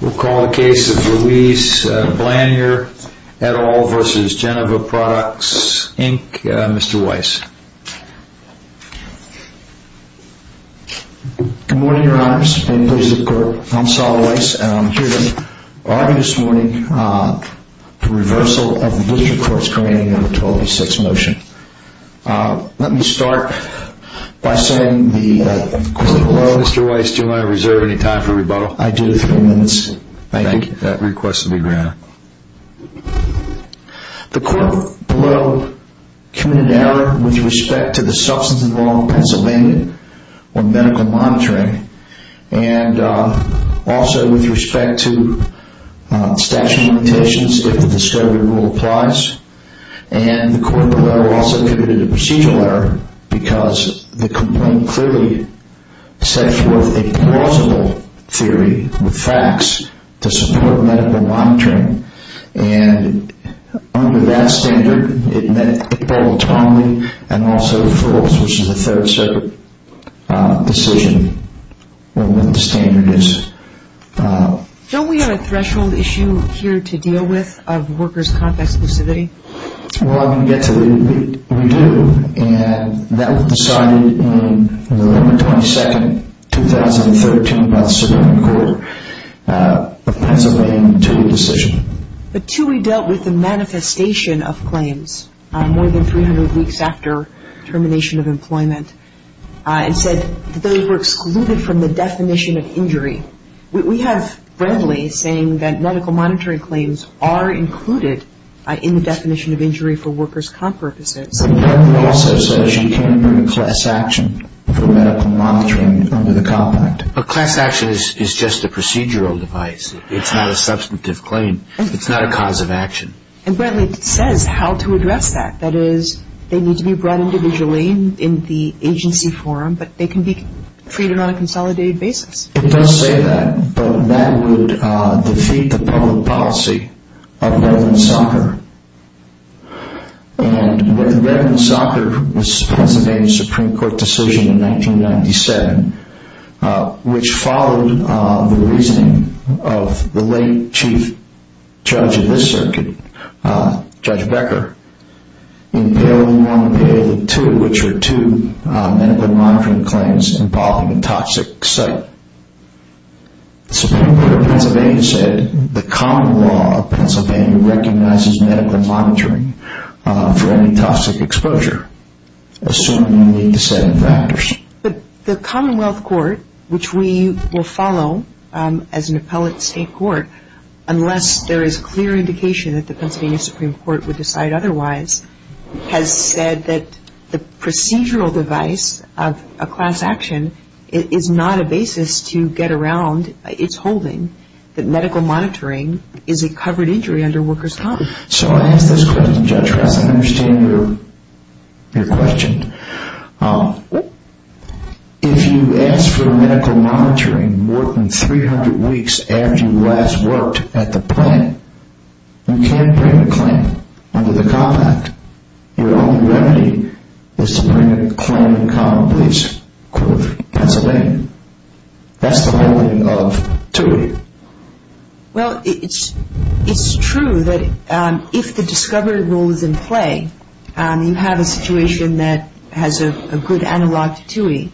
We'll call the case of Louise Blanyar et al. v. Genova Products, Inc., Mr. Weiss. Good morning, Your Honors. I'm Saul Weiss, and I'm here to argue this morning the reversal of the District Court's commanding No. 1206 motion. Let me start by citing the court below. Mr. Weiss, do you want to reserve any time for rebuttal? I do. Three minutes. Thank you. That request will be granted. The court below committed an error with respect to the substance involved in Pennsylvania or medical monitoring, and also with respect to statute of limitations if the discovery rule applies. And the court below also committed a procedural error, because the complaint clearly sets forth a plausible theory with facts to support medical monitoring. And under that standard, it met the applicable time limit, and also fulfills the Third Circuit decision on what the standard is. Don't we have a threshold issue here to deal with of workers' contract exclusivity? Well, I'm going to get to it. We do. And that was decided on November 22, 2013, by the Suburban Court of Pennsylvania in a two-way decision. The two-way dealt with the manifestation of claims more than 300 weeks after termination of employment and said that those were excluded from the definition of injury. We have Brantley saying that medical monitoring claims are included in the definition of injury for workers' comp purposes. And Brantley also says you can't include a class action for medical monitoring under the Comp Act. A class action is just a procedural device. It's not a substantive claim. It's not a cause of action. And Brantley says how to address that. That is, they need to be brought individually in the agency forum, but they can be treated on a consolidated basis. It does say that, but that would defeat the public policy of relevant soccer. And when relevant soccer was presented in the Supreme Court decision in 1997, which followed the reasoning of the late chief judge of this circuit, Judge Becker, in Bill 1 and Bill 2, which were two medical monitoring claims involving a toxic site, the Supreme Court of Pennsylvania said the common law of Pennsylvania recognizes medical monitoring for any toxic exposure, assuming only the seven factors. But the Commonwealth Court, which we will follow as an appellate state court, unless there is clear indication that the Pennsylvania Supreme Court would decide otherwise, has said that the procedural device of a class action is not a basis to get around its holding, that medical monitoring is a covered injury under workers' comp. So I ask this question, Judge Krause, and I understand your question. If you ask for medical monitoring more than 300 weeks after you last worked at the plant, you can't bring a claim under the Comp Act. Your only remedy is to bring a claim in the Commonwealth Court of Pennsylvania. That's the holding of two. Well, it's true that if the discovery rule is in play, you have a situation that has a good analog to TUI.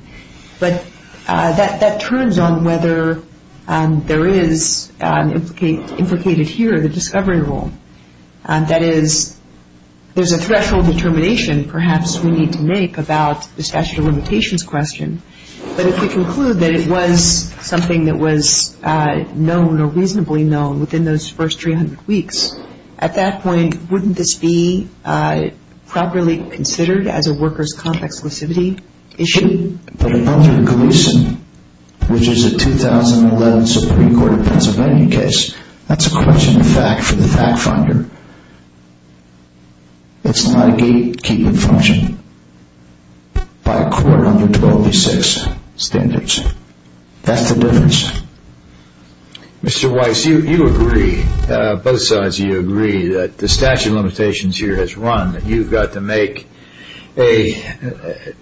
But that turns on whether there is implicated here the discovery rule. That is, there's a threshold determination perhaps we need to make about the statute of limitations question. But if we conclude that it was something that was known or reasonably known within those first 300 weeks, at that point wouldn't this be properly considered as a workers' comp exclusivity issue? But under Gleason, which is a 2011 Supreme Court of Pennsylvania case, that's a question of fact for the fact finder. It's not a gatekeeping function by a court under 1286 standards. That's the difference. Mr. Weiss, you agree, both sides of you agree, that the statute of limitations here has run, that you've got to make a,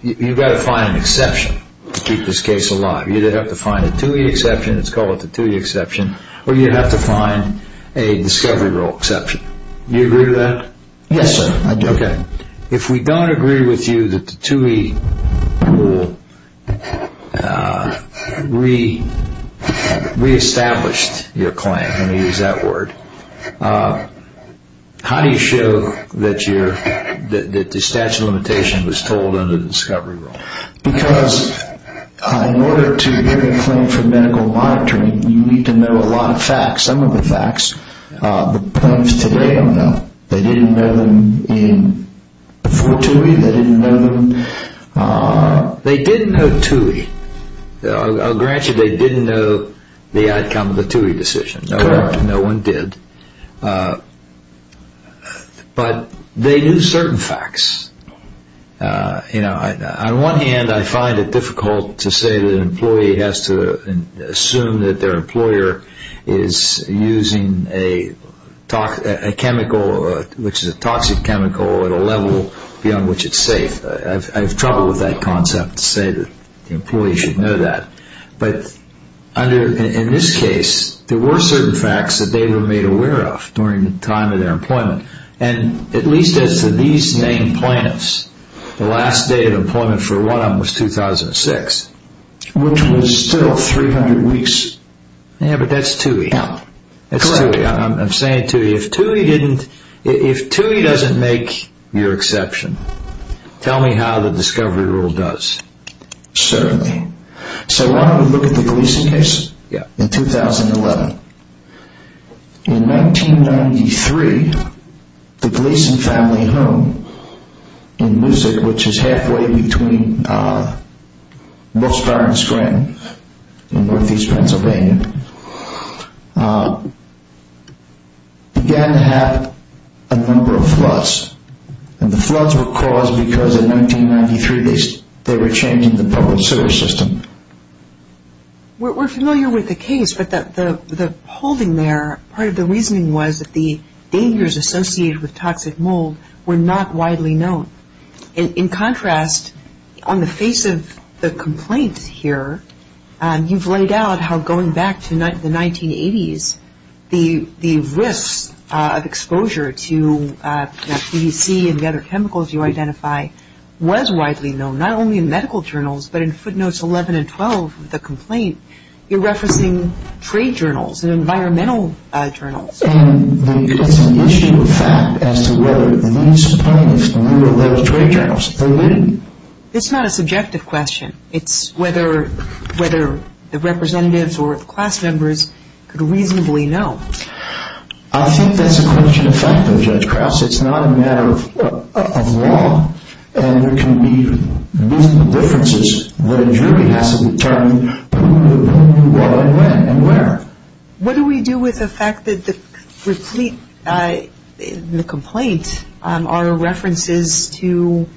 you've got to find an exception to keep this case alive. You either have to find a TUI exception, let's call it the TUI exception, or you have to find a discovery rule exception. Do you agree to that? Yes, sir, I do. Okay. If we don't agree with you that the TUI rule reestablished your claim, let me use that word, how do you show that the statute of limitation was told under the discovery rule? Because in order to give a claim for medical monitoring, you need to know a lot of facts, some of the facts. Perhaps today I don't know. They didn't know them before TUI? They didn't know them? They didn't know TUI. I'll grant you they didn't know the outcome of the TUI decision. Correct. No one did. But they knew certain facts. On one hand, I find it difficult to say that an employee has to assume that their employer is using a chemical, which is a toxic chemical, at a level beyond which it's safe. I have trouble with that concept to say that the employee should know that. But in this case, there were certain facts that they were made aware of during the time of their employment. And at least as to these named plaintiffs, the last day of employment for one of them was 2006. Which was still 300 weeks. Yeah, but that's TUI. Yeah. That's TUI. I'm saying TUI. If TUI doesn't make your exception, tell me how the discovery rule does. Certainly. So why don't we look at the Gleason case in 2011. In 1993, the Gleason family home in Moosick, which is halfway between Buscar and Scranton in northeast Pennsylvania, began to have a number of floods. And the floods were caused because in 1993 they were changing the public sewer system. We're familiar with the case. But the holding there, part of the reasoning was that the dangers associated with toxic mold were not widely known. In contrast, on the face of the complaint here, you've laid out how going back to the 1980s, the risk of exposure to PVC and the other chemicals you identify was widely known. Not only in medical journals, but in footnotes 11 and 12 of the complaint, you're referencing trade journals and environmental journals. It's an issue of fact as to whether the municipalities knew of those trade journals. They didn't. It's not a subjective question. It's whether the representatives or the class members could reasonably know. I think that's a question of fact, though, Judge Krause. It's not a matter of law. And there can be differences that a jury has to determine who knew what and when and where. What do we do with the fact that the complaint are references to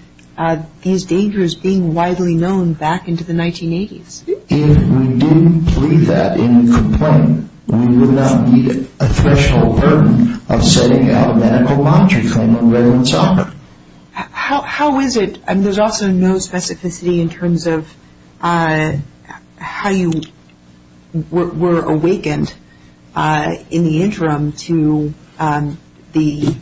these dangers being widely known back into the 1980s? If we didn't leave that in the complaint, we would not meet a threshold burden of setting out a medical monitory claim on relevant software. How is it, and there's also no specificity in terms of how you were awakened in the interim to the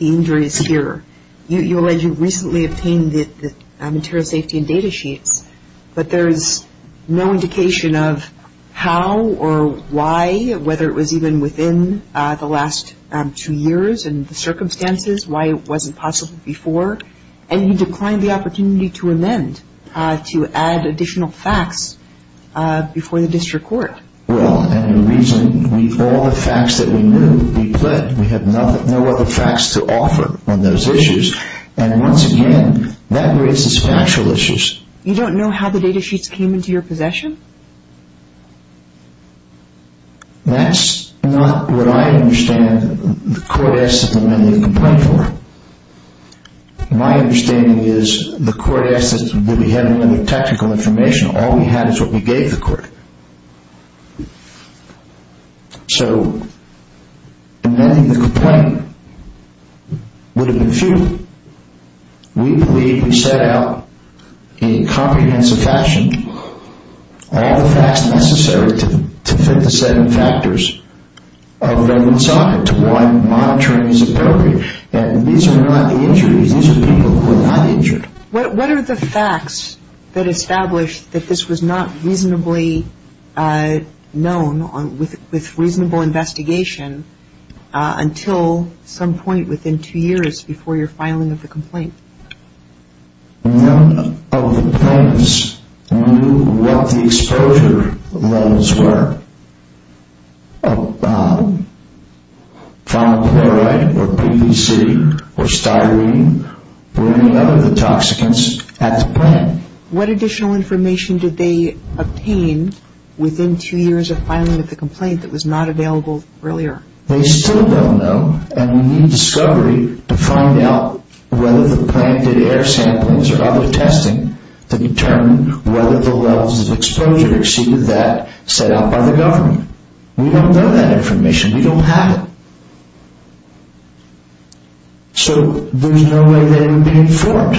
injuries here. You recently obtained the material safety and data sheets, but there is no indication of how or why, whether it was even within the last two years and the circumstances, why it wasn't possible before. And you declined the opportunity to amend, to add additional facts before the district court. Well, and the reason, with all the facts that we knew, we pled. We have no other facts to offer on those issues. And once again, that raises factual issues. You don't know how the data sheets came into your possession? That's not what I understand the court asked us to amend the complaint for. My understanding is the court asked us, did we have any technical information? All we had is what we gave the court. So, amending the complaint would have been futile. We believe we set out in comprehensive fashion all the facts necessary to fit the seven factors of relevant software, to what monitoring is appropriate. And these are not the injuries. These are people who are not injured. What are the facts that establish that this was not reasonably known with reasonable investigation until some point within two years before your filing of the complaint? None of the plaintiffs knew what the exposure levels were. Phenylchloride or PVC or styrene or any other of the toxicants at the plant. What additional information did they obtain within two years of filing of the complaint that was not available earlier? They still don't know and we need discovery to find out whether the plant did air sampling or other testing to determine whether the levels of exposure exceeded that set out by the government. We don't know that information. We don't have it. So, there's no way they would be informed.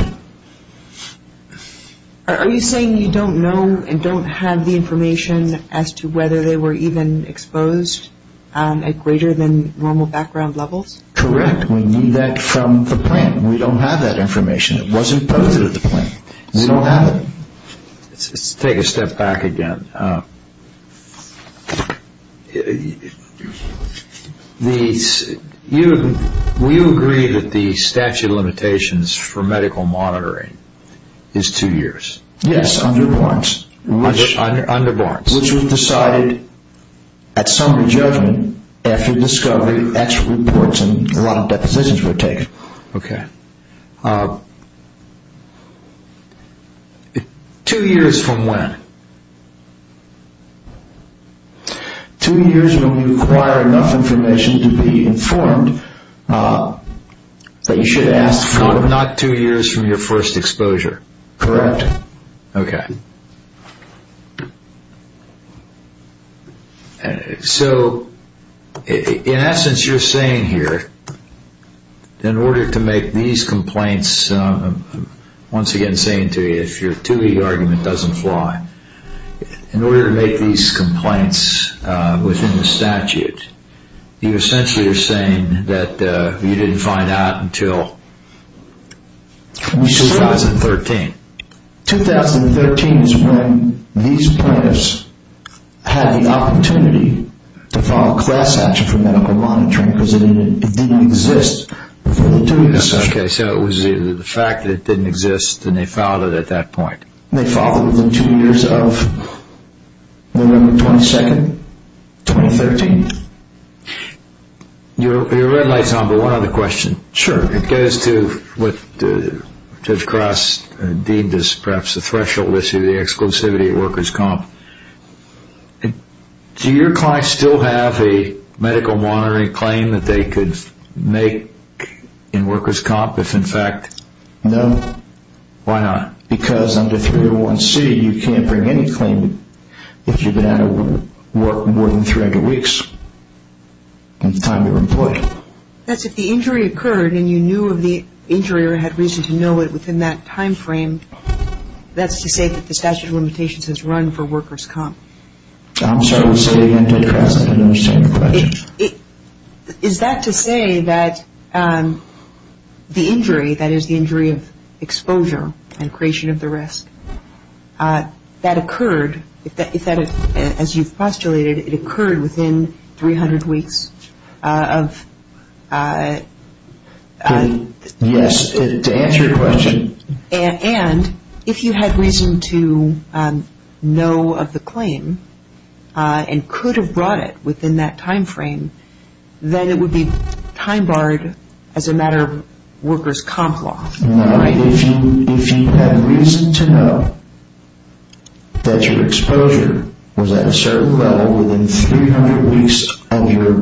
Are you saying you don't know and don't have the information as to whether they were even exposed at greater than normal background levels? Correct. We knew that from the plant. We don't have that information. It wasn't posted at the plant. We don't have it. Let's take a step back again. We agree that the statute of limitations for medical monitoring is two years. Yes, under Barnes. Under Barnes. Which was decided at summary judgment after discovery, extra reports and a lot of depositions were taken. Okay. Two years from when? Two years when we require enough information to be informed that you should ask for it. Not two years from your first exposure. Correct. Okay. So, in essence, you're saying here, in order to make these complaints, once again saying to you, if your two-league argument doesn't fly, in order to make these complaints within the statute, you essentially are saying that you didn't find out until 2013. 2013 is when these plaintiffs had the opportunity to file a class action for medical monitoring because it didn't exist before the two years. Okay. So it was either the fact that it didn't exist and they filed it at that point. They filed it within two years of November 22, 2013. Your red light is on, but one other question. Sure. It goes to what Judge Cross deemed as perhaps the threshold issue, the exclusivity at workers' comp. Do your clients still have a medical monitoring claim that they could make in workers' comp if, in fact? No. Why not? Because under 301C, you can't bring any claim if you've been out of work more than 300 weeks in the time you were employed. That's if the injury occurred and you knew of the injury or had reason to know it within that time frame, that's to say that the statute of limitations has run for workers' comp. I'm sorry. I'll say it again, Judge Cross. I didn't understand your question. Is that to say that the injury, that is the injury of exposure and creation of the rest, that occurred, as you've postulated, it occurred within 300 weeks of? Yes, to answer your question. And if you had reason to know of the claim and could have brought it within that time frame, then it would be time barred as a matter of workers' comp law. Now, if you had reason to know that your exposure was at a certain level within 300 weeks of your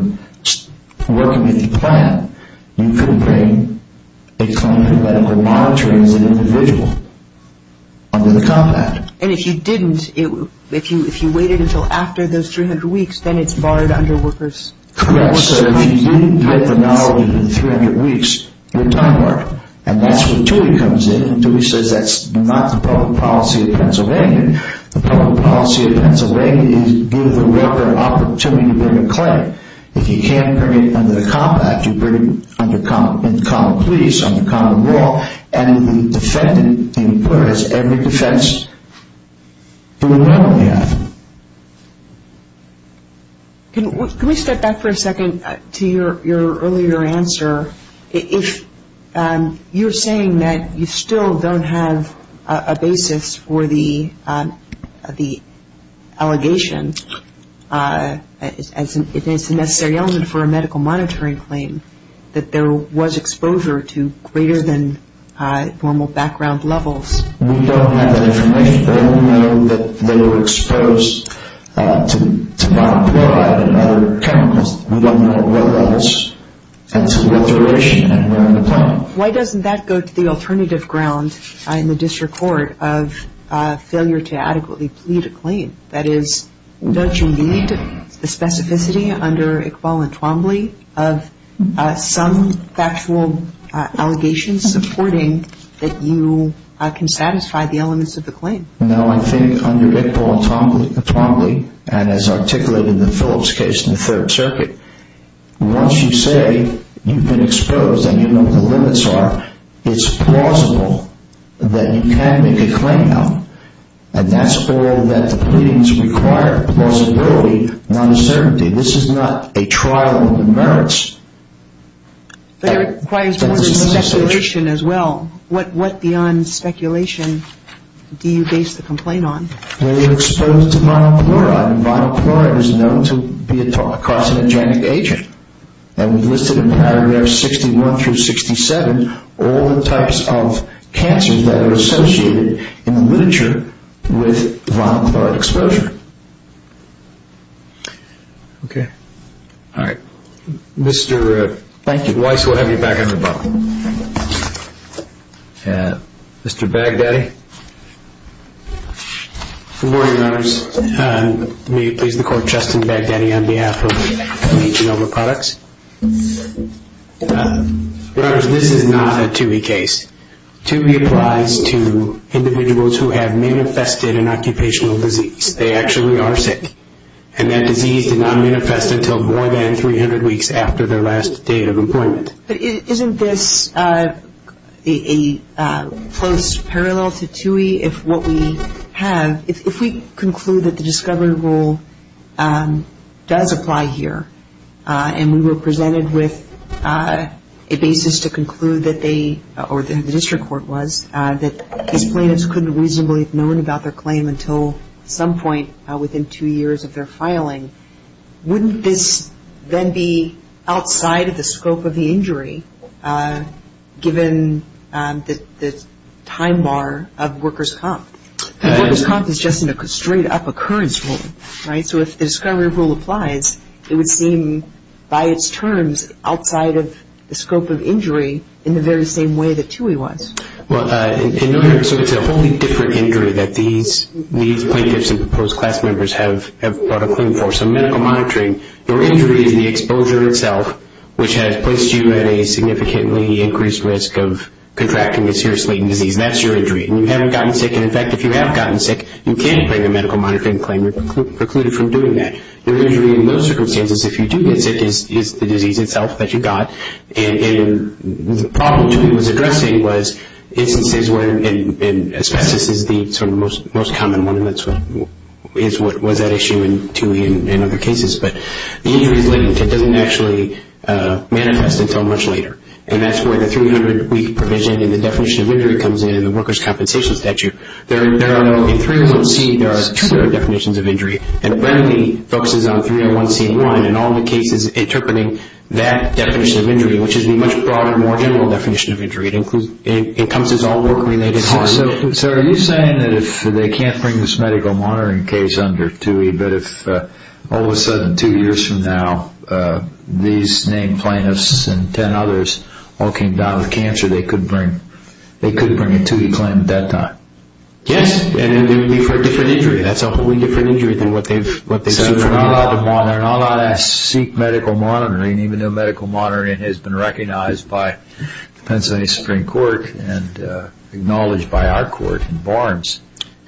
working at the plant, you couldn't bring a claim to medical monitoring as an individual under the compact. And if you didn't, if you waited until after those 300 weeks, then it's barred under workers' comp law. Correct. So if you didn't get the knowledge within 300 weeks, you're time barred. And that's where TUI comes in. And TUI says that's not the public policy of Pennsylvania. The public policy of Pennsylvania is give the worker an opportunity to bring a claim. If you can't bring it under the compact, you bring it under common police, under common law, and the defendant inquires every defense who will know they have it. Can we step back for a second to your earlier answer? If you're saying that you still don't have a basis for the allegation, if it's a necessary element for a medical monitoring claim, that there was exposure to greater than formal background levels. We don't have that information. We only know that they were exposed to monocloride and other chemicals. We don't know what levels and to what duration and where on the planet. Why doesn't that go to the alternative ground in the district court of failure to adequately plead a claim? That is, don't you need the specificity under Iqbal and Twombly of some factual allegations supporting that you can satisfy the elements of the claim? No, I think under Iqbal and Twombly, and as articulated in the Phillips case in the Third Circuit, once you say you've been exposed and you know what the limits are, it's plausible that you can make a claim now. And that's all that the pleadings require, plausibility, not uncertainty. This is not a trial of the merits. But it requires more speculation as well. What beyond speculation do you base the complaint on? They were exposed to monocloride, and monocloride is known to be a carcinogenic agent. And we've listed in paragraph 61 through 67 all the types of cancers that are associated in the literature with monocloride exposure. Okay. All right. Mr. Weiss, we'll have you back at the bottom. Mr. Baghdadi. Good morning, Your Honors. May it please the Court, Justin Baghdadi on behalf of P. Genoma Products. Your Honors, this is not a TUI case. TUI applies to individuals who have manifested an occupational disease. They actually are sick, and that disease did not manifest until more than 300 weeks after their last day of employment. But isn't this a close parallel to TUI if what we have, if we conclude that the discovery rule does apply here, and we were presented with a basis to conclude that they, or the district court was, that these plaintiffs couldn't reasonably have known about their claim until some point within two years of their filing, wouldn't this then be outside of the scope of the injury given the time bar of workers' comp? Workers' comp is just a straight-up occurrence rule, right? So if the discovery rule applies, it would seem by its terms outside of the scope of injury in the very same way that TUI was. Well, so it's a wholly different injury that these plaintiffs and proposed class members have brought a claim for. So medical monitoring, your injury is the exposure itself, which has placed you at a significantly increased risk of contracting a serious latent disease. That's your injury. And you haven't gotten sick, and in fact, if you have gotten sick, you can bring a medical monitoring claim. You're precluded from doing that. Your injury in those circumstances, if you do get sick, is the disease itself that you got. And the problem TUI was addressing was instances where, and asbestos is the sort of most common one, and that's what was at issue in TUI and other cases, but the injury is latent. It doesn't actually manifest until much later, and that's where the 300-week provision and the definition of injury comes in in the workers' compensation statute. In 301C, there are two different definitions of injury, and readily focuses on 301C in line in all the cases interpreting that definition of injury, which is the much broader, more general definition of injury. It encompasses all work-related harm. So are you saying that if they can't bring this medical monitoring case under TUI, but if all of a sudden, two years from now, these named plaintiffs and 10 others all came down with cancer, they could bring a TUI claim at that time? Yes, and it would be for a different injury. That's a wholly different injury than what they've seen from you. So they're not allowed to seek medical monitoring, even though medical monitoring has been recognized by the Pennsylvania Supreme Court and acknowledged by our court in Barnes.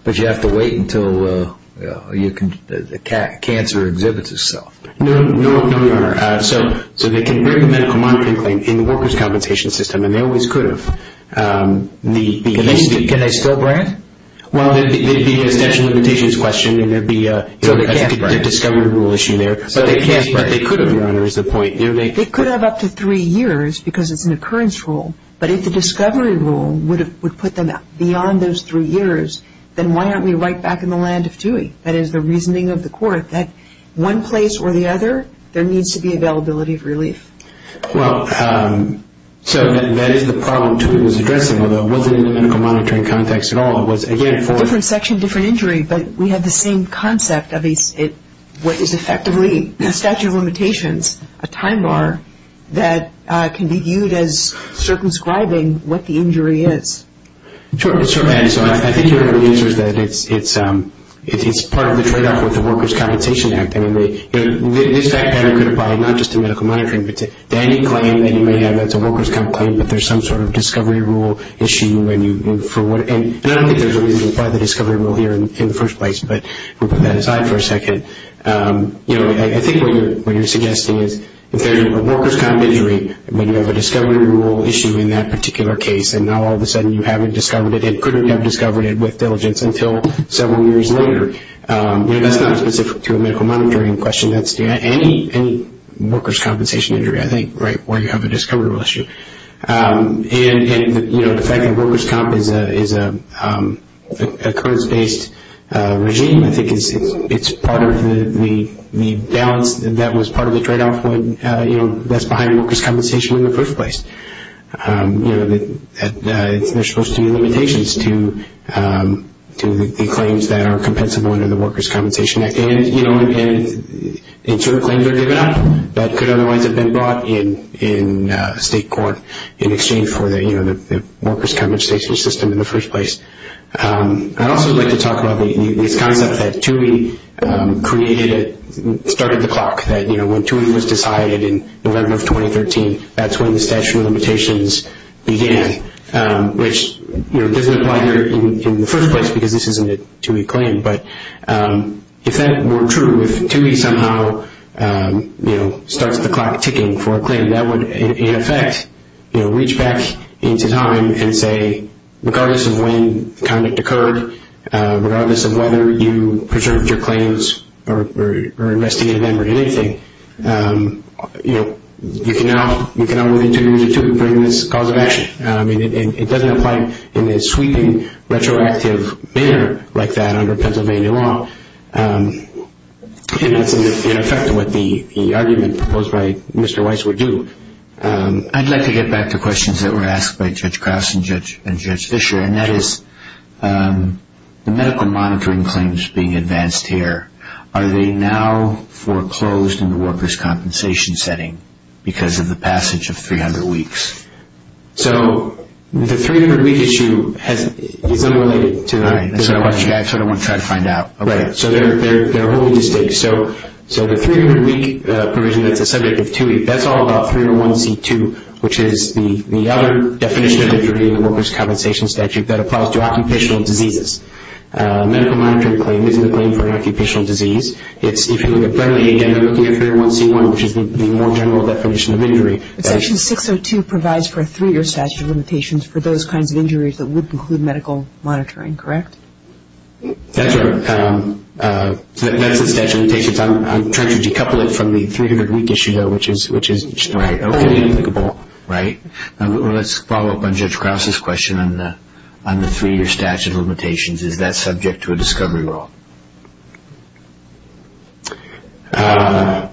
But you have to wait until the cancer exhibits itself. No, Your Honor. So they can bring the medical monitoring claim in the workers' compensation system, and they always could have. Can they still bring it? Well, there would be a statute of limitations question, and there would be a discovery rule issue there. But they could have, Your Honor, is the point. They could have up to three years because it's an occurrence rule. But if the discovery rule would put them beyond those three years, then why aren't we right back in the land of TUI? That is the reasoning of the court, that one place or the other, there needs to be availability of relief. Well, so that is the problem TUI was addressing, although it wasn't in the medical monitoring context at all. Different section, different injury, but we have the same concept of what is effectively a statute of limitations, a time bar that can be viewed as circumscribing what the injury is. Sure. So I think your answer is that it's part of the tradeoff with the Workers' Compensation Act. This fact pattern could apply not just to medical monitoring, but to any claim that you may have that's a workers' comp claim, but there's some sort of discovery rule issue. And I don't think there's a reason to apply the discovery rule here in the first place, but we'll put that aside for a second. I think what you're suggesting is if there's a workers' comp injury, when you have a discovery rule issue in that particular case and now all of a sudden you haven't discovered it and couldn't have discovered it with diligence until several years later, that's not specific to a medical monitoring question. That's any workers' compensation injury, I think, where you have a discovery rule issue. And the fact that workers' comp is a occurrence-based regime, I think it's part of the balance that was part of the tradeoff when that's behind workers' compensation in the first place. There's supposed to be limitations to the claims that are compensable under the Workers' Compensation Act. And certain claims are given up that could otherwise have been brought in state court in exchange for the workers' compensation system in the first place. I'd also like to talk about this concept that TUI created at the start of the clock, that when TUI was decided in November of 2013, that's when the statute of limitations began, which doesn't apply here in the first place because this isn't a TUI claim. But if that weren't true, if TUI somehow starts the clock ticking for a claim, that would, in effect, reach back into time and say, regardless of when the conduct occurred, regardless of whether you preserved your claims or investigated them or anything, you can now move into TUI and bring this cause of action. It doesn't apply in a sweeping, retroactive manner like that under Pennsylvania law. And that's, in effect, what the argument proposed by Mr. Weiss would do. I'd like to get back to questions that were asked by Judge Krause and Judge Fischer, and that is the medical monitoring claims being advanced here, are they now foreclosed in the workers' compensation setting because of the passage of 300 weeks? So the 300-week issue is unrelated to this question. I sort of want to try to find out. Right. So they're wholly distinct. So the 300-week provision that's a subject of TUI, that's all about 301c2, which is the other definition of injury in the workers' compensation statute that applies to occupational diseases. A medical monitoring claim isn't a claim for an occupational disease. If you look at Brenley, again, they're looking at 301c1, which is the more general definition of injury. Section 602 provides for a three-year statute of limitations for those kinds of injuries that would include medical monitoring, correct? That's the statute of limitations. I'm trying to decouple it from the 300-week issue, though, which is fairly applicable. Let's follow up on Judge Krause's question on the three-year statute of limitations. Is that subject to a discovery law? My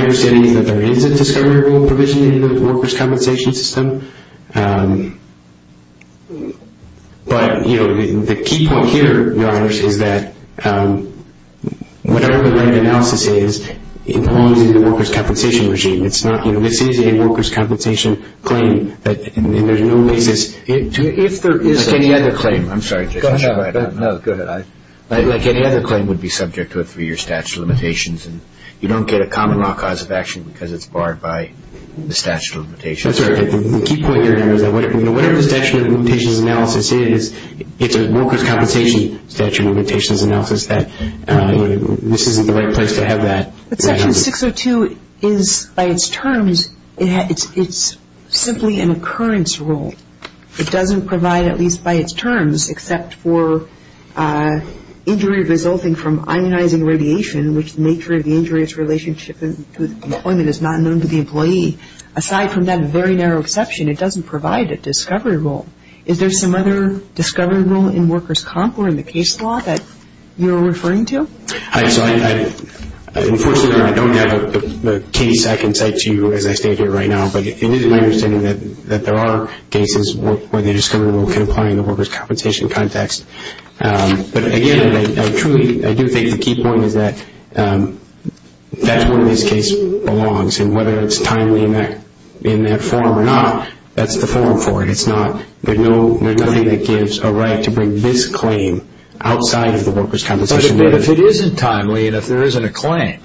understanding is that there is a discovery provision in the workers' compensation system. But, you know, the key point here, Your Honors, is that whatever the right analysis is, it belongs in the workers' compensation regime. It's not, you know, this is a workers' compensation claim, and there's no basis to it. If there is any other claim, I'm sorry, Judge. No, go ahead. Like any other claim would be subject to a three-year statute of limitations, and you don't get a common law cause of action because it's barred by the statute of limitations. I'm sorry. The key point here, Your Honors, is that whatever the statute of limitations analysis is, it's a workers' compensation statute of limitations analysis that this isn't the right place to have that. But Section 602 is, by its terms, it's simply an occurrence rule. It doesn't provide, at least by its terms, except for injury resulting from ionizing radiation, which the nature of the injury is relationship to employment is not known to the employee. Aside from that very narrow exception, it doesn't provide a discovery rule. Is there some other discovery rule in workers' comp or in the case law that you're referring to? Unfortunately, I don't have a case I can cite to you as I stand here right now. But it is my understanding that there are cases where the discovery rule can apply in the workers' compensation context. But, again, I truly do think the key point is that that's where this case belongs, and whether it's timely in that form or not, that's the form for it. There's nothing that gives a right to bring this claim outside of the workers' compensation. But if it isn't timely and if there isn't a claim,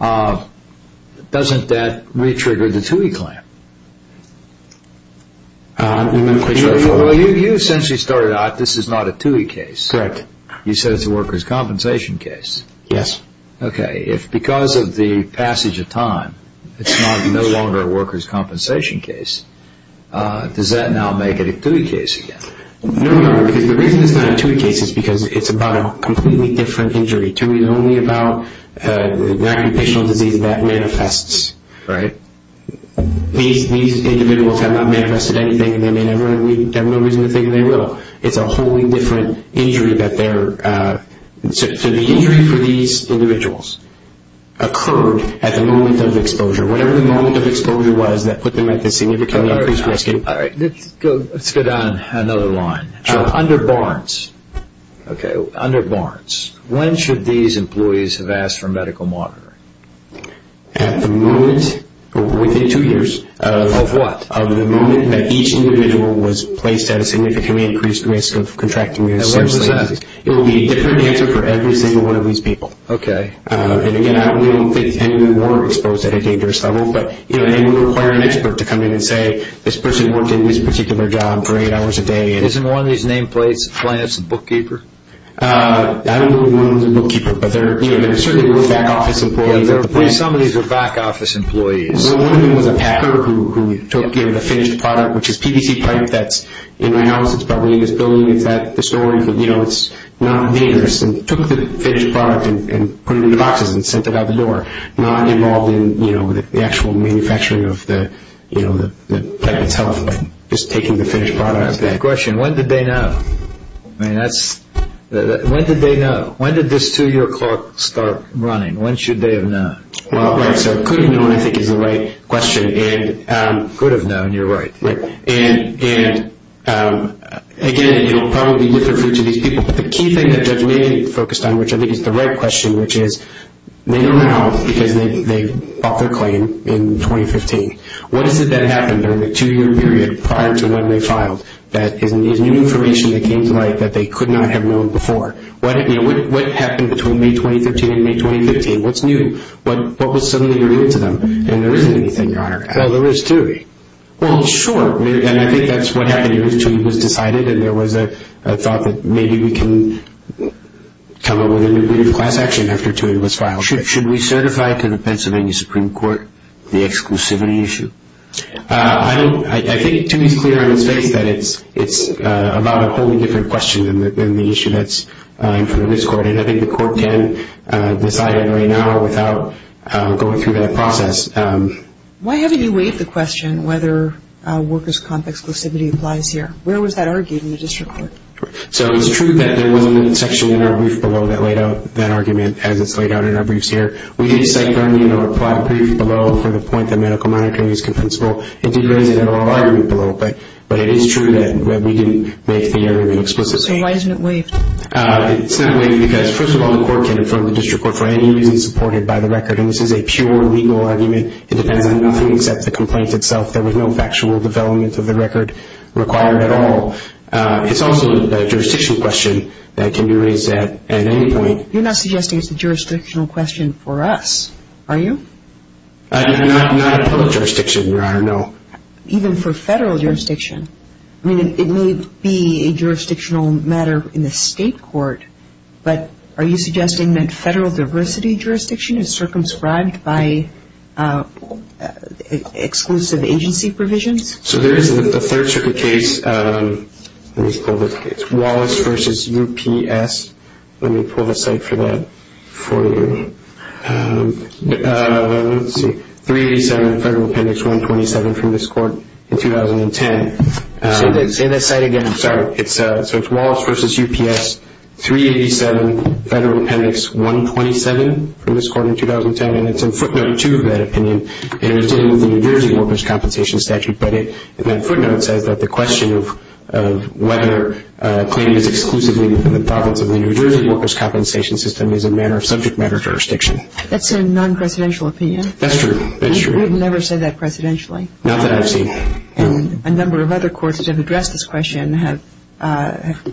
doesn't that re-trigger the TUI claim? You essentially started out, this is not a TUI case. Correct. You said it's a workers' compensation case. Yes. Okay, if because of the passage of time, it's no longer a workers' compensation case, does that now make it a TUI case again? No, no, because the reason it's not a TUI case is because it's about a completely different injury. TUI is only about an occupational disease that manifests. Right. These individuals have not manifested anything and they may never have no reason to think they will. It's a wholly different injury that they're... So the injury for these individuals occurred at the moment of exposure. Whatever the moment of exposure was that put them at this significantly increased risk... All right, let's go down another line. Sure. Under Barnes, okay, under Barnes, when should these employees have asked for medical monitoring? At the moment, within two years. Of what? Of the moment that each individual was placed at a significantly increased risk of contracting a serious disease. And what does that mean? It would be a different answer for every single one of these people. Okay. And again, we don't think any of them were exposed at a dangerous level, but they would require an expert to come in and say, this person worked in this particular job for eight hours a day. Isn't one of these nameplates a flance, a bookkeeper? I don't know if one of them is a bookkeeper, but there certainly were back-office employees at the plant. Some of these were back-office employees. Well, one of them was a packer who took the finished product, which is PVC pipe that's in my house, it's probably in this building, it's at the store, and it's not dangerous, and took the finished product and put it in the boxes and sent it out the door. They were not involved in the actual manufacturing of the pipe that's helpful in just taking the finished product. I have a question. When did they know? I mean, when did they know? When did this two-year clock start running? When should they have known? Well, right, so could have known, I think, is the right question. Could have known, you're right. Right. And, again, it will probably differ for each of these people, but the key thing that Judge Magan focused on, which I think is the right question, which is they know now because they bought their claim in 2015. What is it that happened during the two-year period prior to when they filed that is new information that came to light that they could not have known before? What happened between May 2015 and May 2015? What's new? What was suddenly revealed to them? And there isn't anything, Your Honor. Well, there is, too. Well, sure, and I think that's what happened. And there was a thought that maybe we can come up with a new degree of class action after two years was filed. Should we certify to the Pennsylvania Supreme Court the exclusivity issue? I don't. I think to me it's clear on its face that it's about a wholly different question than the issue that's in front of this Court, and I think the Court can decide it right now without going through that process. Why haven't you waived the question whether workers' comp exclusivity applies here? Where was that argued in the district court? So it's true that there was a section in our brief below that laid out that argument as it's laid out in our briefs here. We didn't cite the argument or apply brief below for the point that medical monitoring is compensable. It did raise it in our argument below, but it is true that we didn't make the argument explicitly. So why isn't it waived? It's not waived because, first of all, the Court can inform the district court for any reason supported by the record, and this is a pure legal argument. It depends on nothing except the complaint itself. There was no factual development of the record required at all. It's also a jurisdiction question that can be raised at any point. You're not suggesting it's a jurisdictional question for us, are you? Not in public jurisdiction, Your Honor, no. Even for federal jurisdiction? I mean, it may be a jurisdictional matter in the state court, but are you suggesting that federal diversity jurisdiction is circumscribed by exclusive agency provisions? So there is a third circuit case, Wallace v. UPS. Let me pull the site for that for you. 387 Federal Appendix 127 from this court in 2010. Say that site again, I'm sorry. So it's Wallace v. UPS 387 Federal Appendix 127 from this court in 2010, and it's in footnote 2 of that opinion, and it's in with the New Jersey Workers' Compensation Statute, but that footnote says that the question of whether a claim is exclusively within the province of the New Jersey Workers' Compensation System is a matter of subject matter jurisdiction. That's a non-presidential opinion? That's true. We've never said that presidentially. Not that I've seen. A number of other courts that have addressed this question have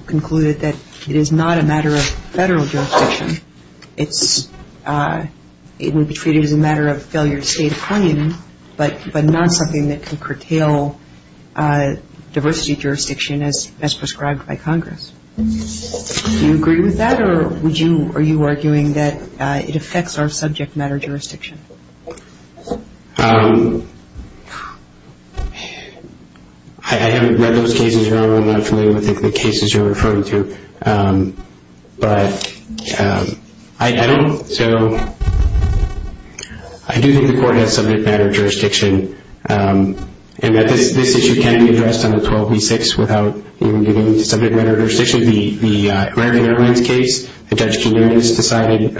concluded that it is not a matter of federal jurisdiction. It would be treated as a matter of failure to state a claim, but not something that can curtail diversity jurisdiction as prescribed by Congress. Do you agree with that, or are you arguing that it affects our subject matter jurisdiction? I haven't read those cases, and I'm not familiar with the cases you're referring to, but I do think the court has subject matter jurisdiction, and that this issue can be addressed under 12b-6 without even getting into subject matter jurisdiction. Actually, the Irving Irwin's case, a judge came in and decided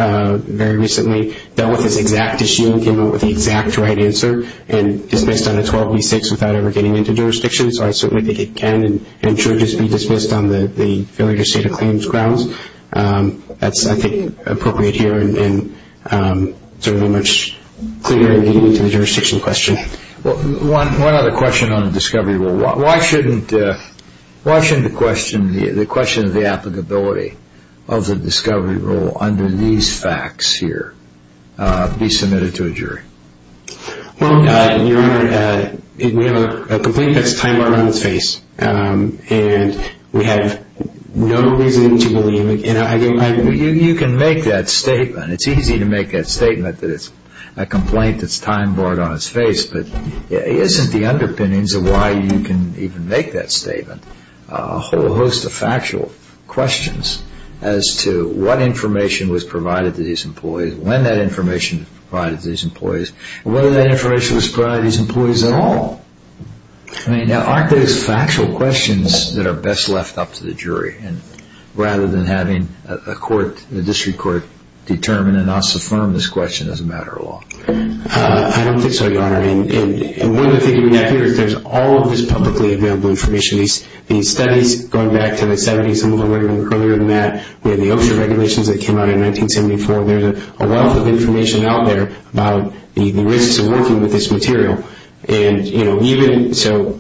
very recently, dealt with this exact issue and came up with the exact right answer, and dismissed under 12b-6 without ever getting into jurisdiction. So I certainly think it can and should just be dismissed on the failure to state a claim grounds. That's, I think, appropriate here and certainly much clearer in getting into the jurisdiction question. One other question on the discovery rule. Why shouldn't the question of the applicability of the discovery rule under these facts here be submitted to a jury? Well, Your Honor, we have a complaint that's time-barred on its face, and we have no reason to believe it. You can make that statement. It's easy to make that statement that it's a complaint that's time-barred on its face, but it isn't the underpinnings of why you can even make that statement. A whole host of factual questions as to what information was provided to these employees, when that information was provided to these employees, and whether that information was provided to these employees at all. I mean, aren't those factual questions that are best left up to the jury rather than having a court, a district court, determine and us affirm this question as a matter of law? I don't think so, Your Honor. And one of the things we have here is there's all of this publicly available information. These studies, going back to the 70s and a little earlier than that, we had the Oakshire regulations that came out in 1974. There's a wealth of information out there about the risks of working with this material. And, you know, even so,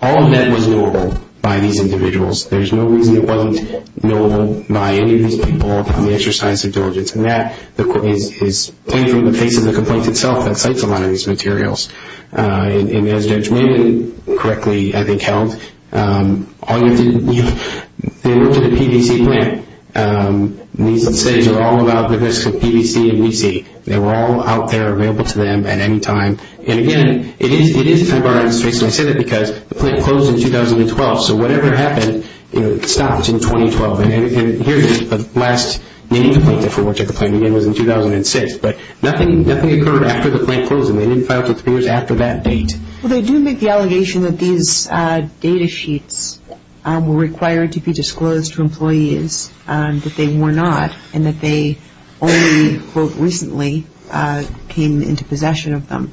all of that was knowable by these individuals. There's no reason it wasn't knowable by any of these people in the exercise of diligence. And that is plain from the face of the complaint itself that cites a lot of these materials. And as Judge Maiden correctly, I think, held, they worked at a PVC plant. These studies are all about the risks of PVC and VC. They were all out there available to them at any time. And, again, it is a time of our registration. I say that because the plant closed in 2012, so whatever happened, it stopped in 2012. And here's the last nitty-gritty for which I complained, again, was in 2006. But nothing occurred after the plant closed. And they didn't file for three years after that date. Well, they do make the allegation that these data sheets were required to be disclosed to employees, that they were not, and that they only, quote, recently came into possession of them.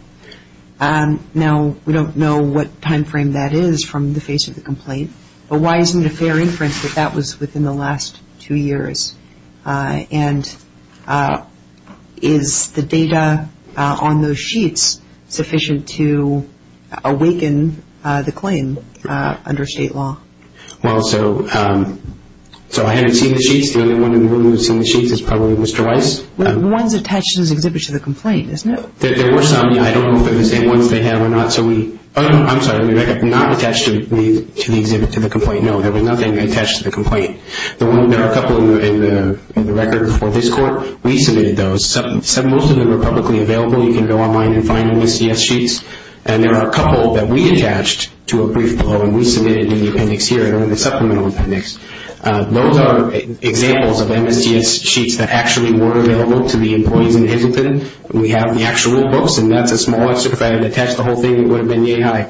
Now, we don't know what time frame that is from the face of the complaint. But why isn't it a fair inference that that was within the last two years? And is the data on those sheets sufficient to awaken the claim under state law? Well, so I haven't seen the sheets. The only one in the room who has seen the sheets is probably Mr. Weiss. The ones attached to those exhibits to the complaint, isn't it? There were some. I don't know if they're the same ones they have or not. I'm sorry, they're not attached to the exhibit, to the complaint. No, there was nothing attached to the complaint. There are a couple in the record for this court. We submitted those. Most of them are publicly available. You can go online and find MSDS sheets. And there are a couple that we attached to a brief below, and we submitted in the appendix here, in the supplemental appendix. Those are examples of MSDS sheets that actually were available to the employees in Hisleton. We have the actual books, and that's a small excerpt. I didn't attach the whole thing. It would have been yay high.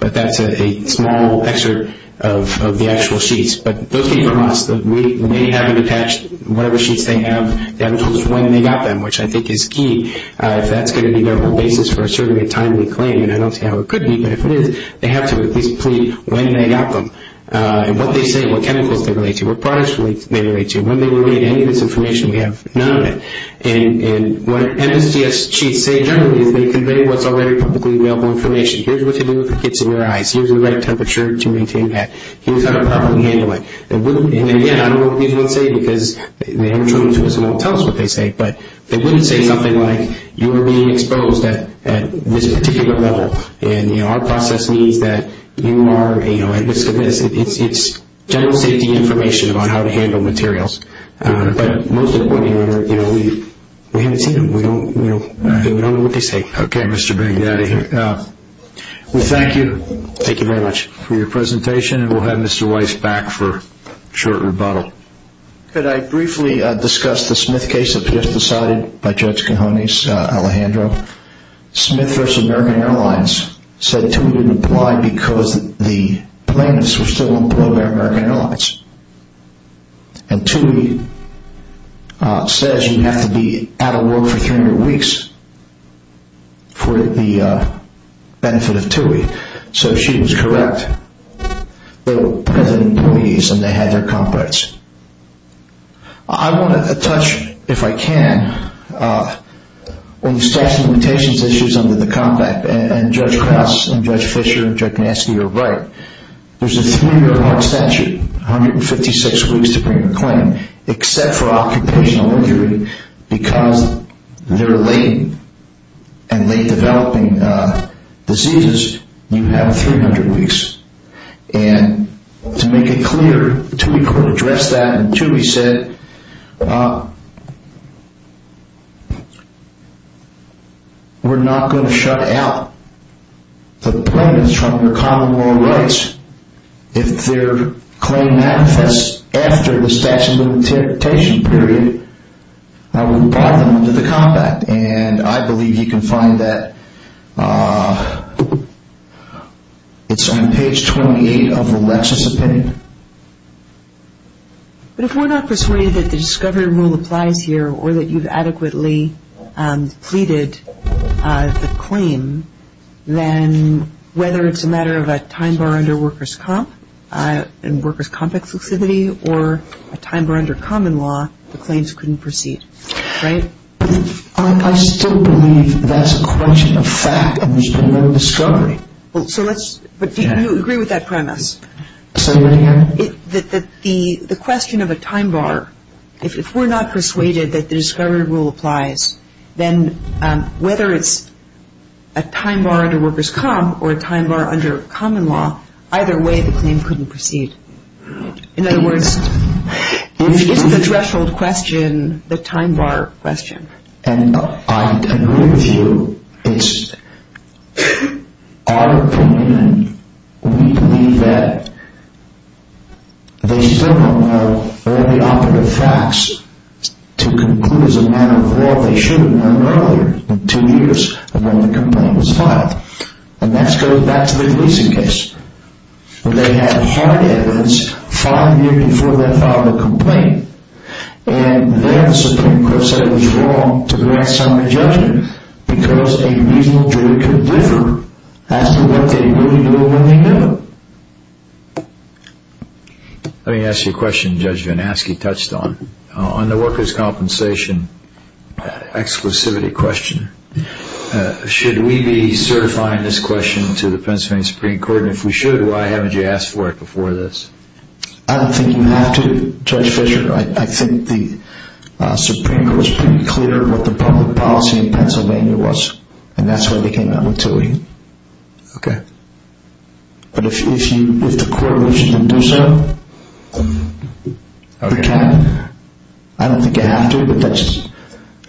But that's a small excerpt of the actual sheets. But those came from us. They haven't attached whatever sheets they have. They haven't told us when they got them, which I think is key. If that's going to be their basis for asserting a timely claim, and I don't see how it could be, but if it is, they have to at least plead when they got them and what they say and what chemicals they relate to, what products they relate to. When they relate any of this information, we have none of it. And what MSDS sheets say generally is they convey what's already publicly available information. Here's what to do with the kits in your eyes. Here's the right temperature to maintain that. Here's how to properly handle it. And, again, I don't know what these would say because they haven't shown it to us and won't tell us what they say, but they wouldn't say something like, you are being exposed at this particular level, and, you know, our process means that you are, you know, at risk of this. It's general safety information about how to handle materials. But most importantly, you know, we haven't seen them. We don't know what they say. Okay, Mr. Big Daddy. We thank you. Thank you very much. For your presentation, and we'll have Mr. Weiss back for a short rebuttal. Could I briefly discuss the Smith case that was just decided by Judge Cahoney's Alejandro? Smith versus American Airlines said two didn't apply because the plaintiffs were still employed by American Airlines, and TUI says you have to be out of work for 300 weeks for the benefit of TUI. So she was correct. They were present employees and they had their contracts. I want to touch, if I can, on the sexual limitations issues under the contract, and Judge Krauss and Judge Fischer and Judge Gnansky are right. There's a three-year hard statute, 156 weeks to bring a claim, except for occupational injury because they're late, and late-developing diseases, you have 300 weeks. And to make it clear, TUI could address that, and TUI said, we're not going to shut out the plaintiffs from their common law rights if their claim manifests after the statute of limitations period, we'll buy them into the combat. And I believe you can find that, it's on page 28 of the Lexis opinion. But if we're not persuaded that the discovery rule applies here or that you've adequately pleaded the claim, then whether it's a matter of a time bar under workers' comp, and workers' compact flexibility, or a time bar under common law, the claims couldn't proceed, right? I still believe that's a question of fact and there's been no discovery. So let's, but do you agree with that premise? The question of a time bar, if we're not persuaded that the discovery rule applies, then whether it's a time bar under workers' comp or a time bar under common law, either way the claim couldn't proceed. In other words, it's the threshold question, the time bar question. And I agree with you. It's our opinion and we believe that they still don't have all the operative facts to conclude as a matter of law they should have known earlier, two years before the complaint was filed. And that goes back to the Gleason case. They had hard evidence five years before they filed the complaint and then the Supreme Court said it was wrong to grant summary judgment because a reasonable jury could differ as to what they really know when they know. Let me ask you a question Judge Van Aske touched on. On the workers' compensation exclusivity question, should we be certifying this question to the Pennsylvania Supreme Court? And if we should, why haven't you asked for it before this? I don't think you have to, Judge Fischer. I think the Supreme Court was pretty clear what the public policy in Pennsylvania was and that's why they came out with Tuohy. Okay. But if the court wishes them to do so, they can. I don't think you have to, but that's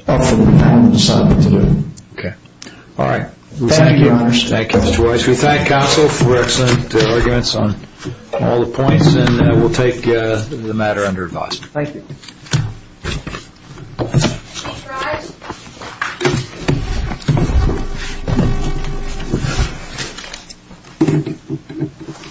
up for the panel to decide what to do. Okay. All right. Thank you. Thank you, Judge. We thank counsel for excellent arguments on all the points and we'll take the matter under advice. Thank you.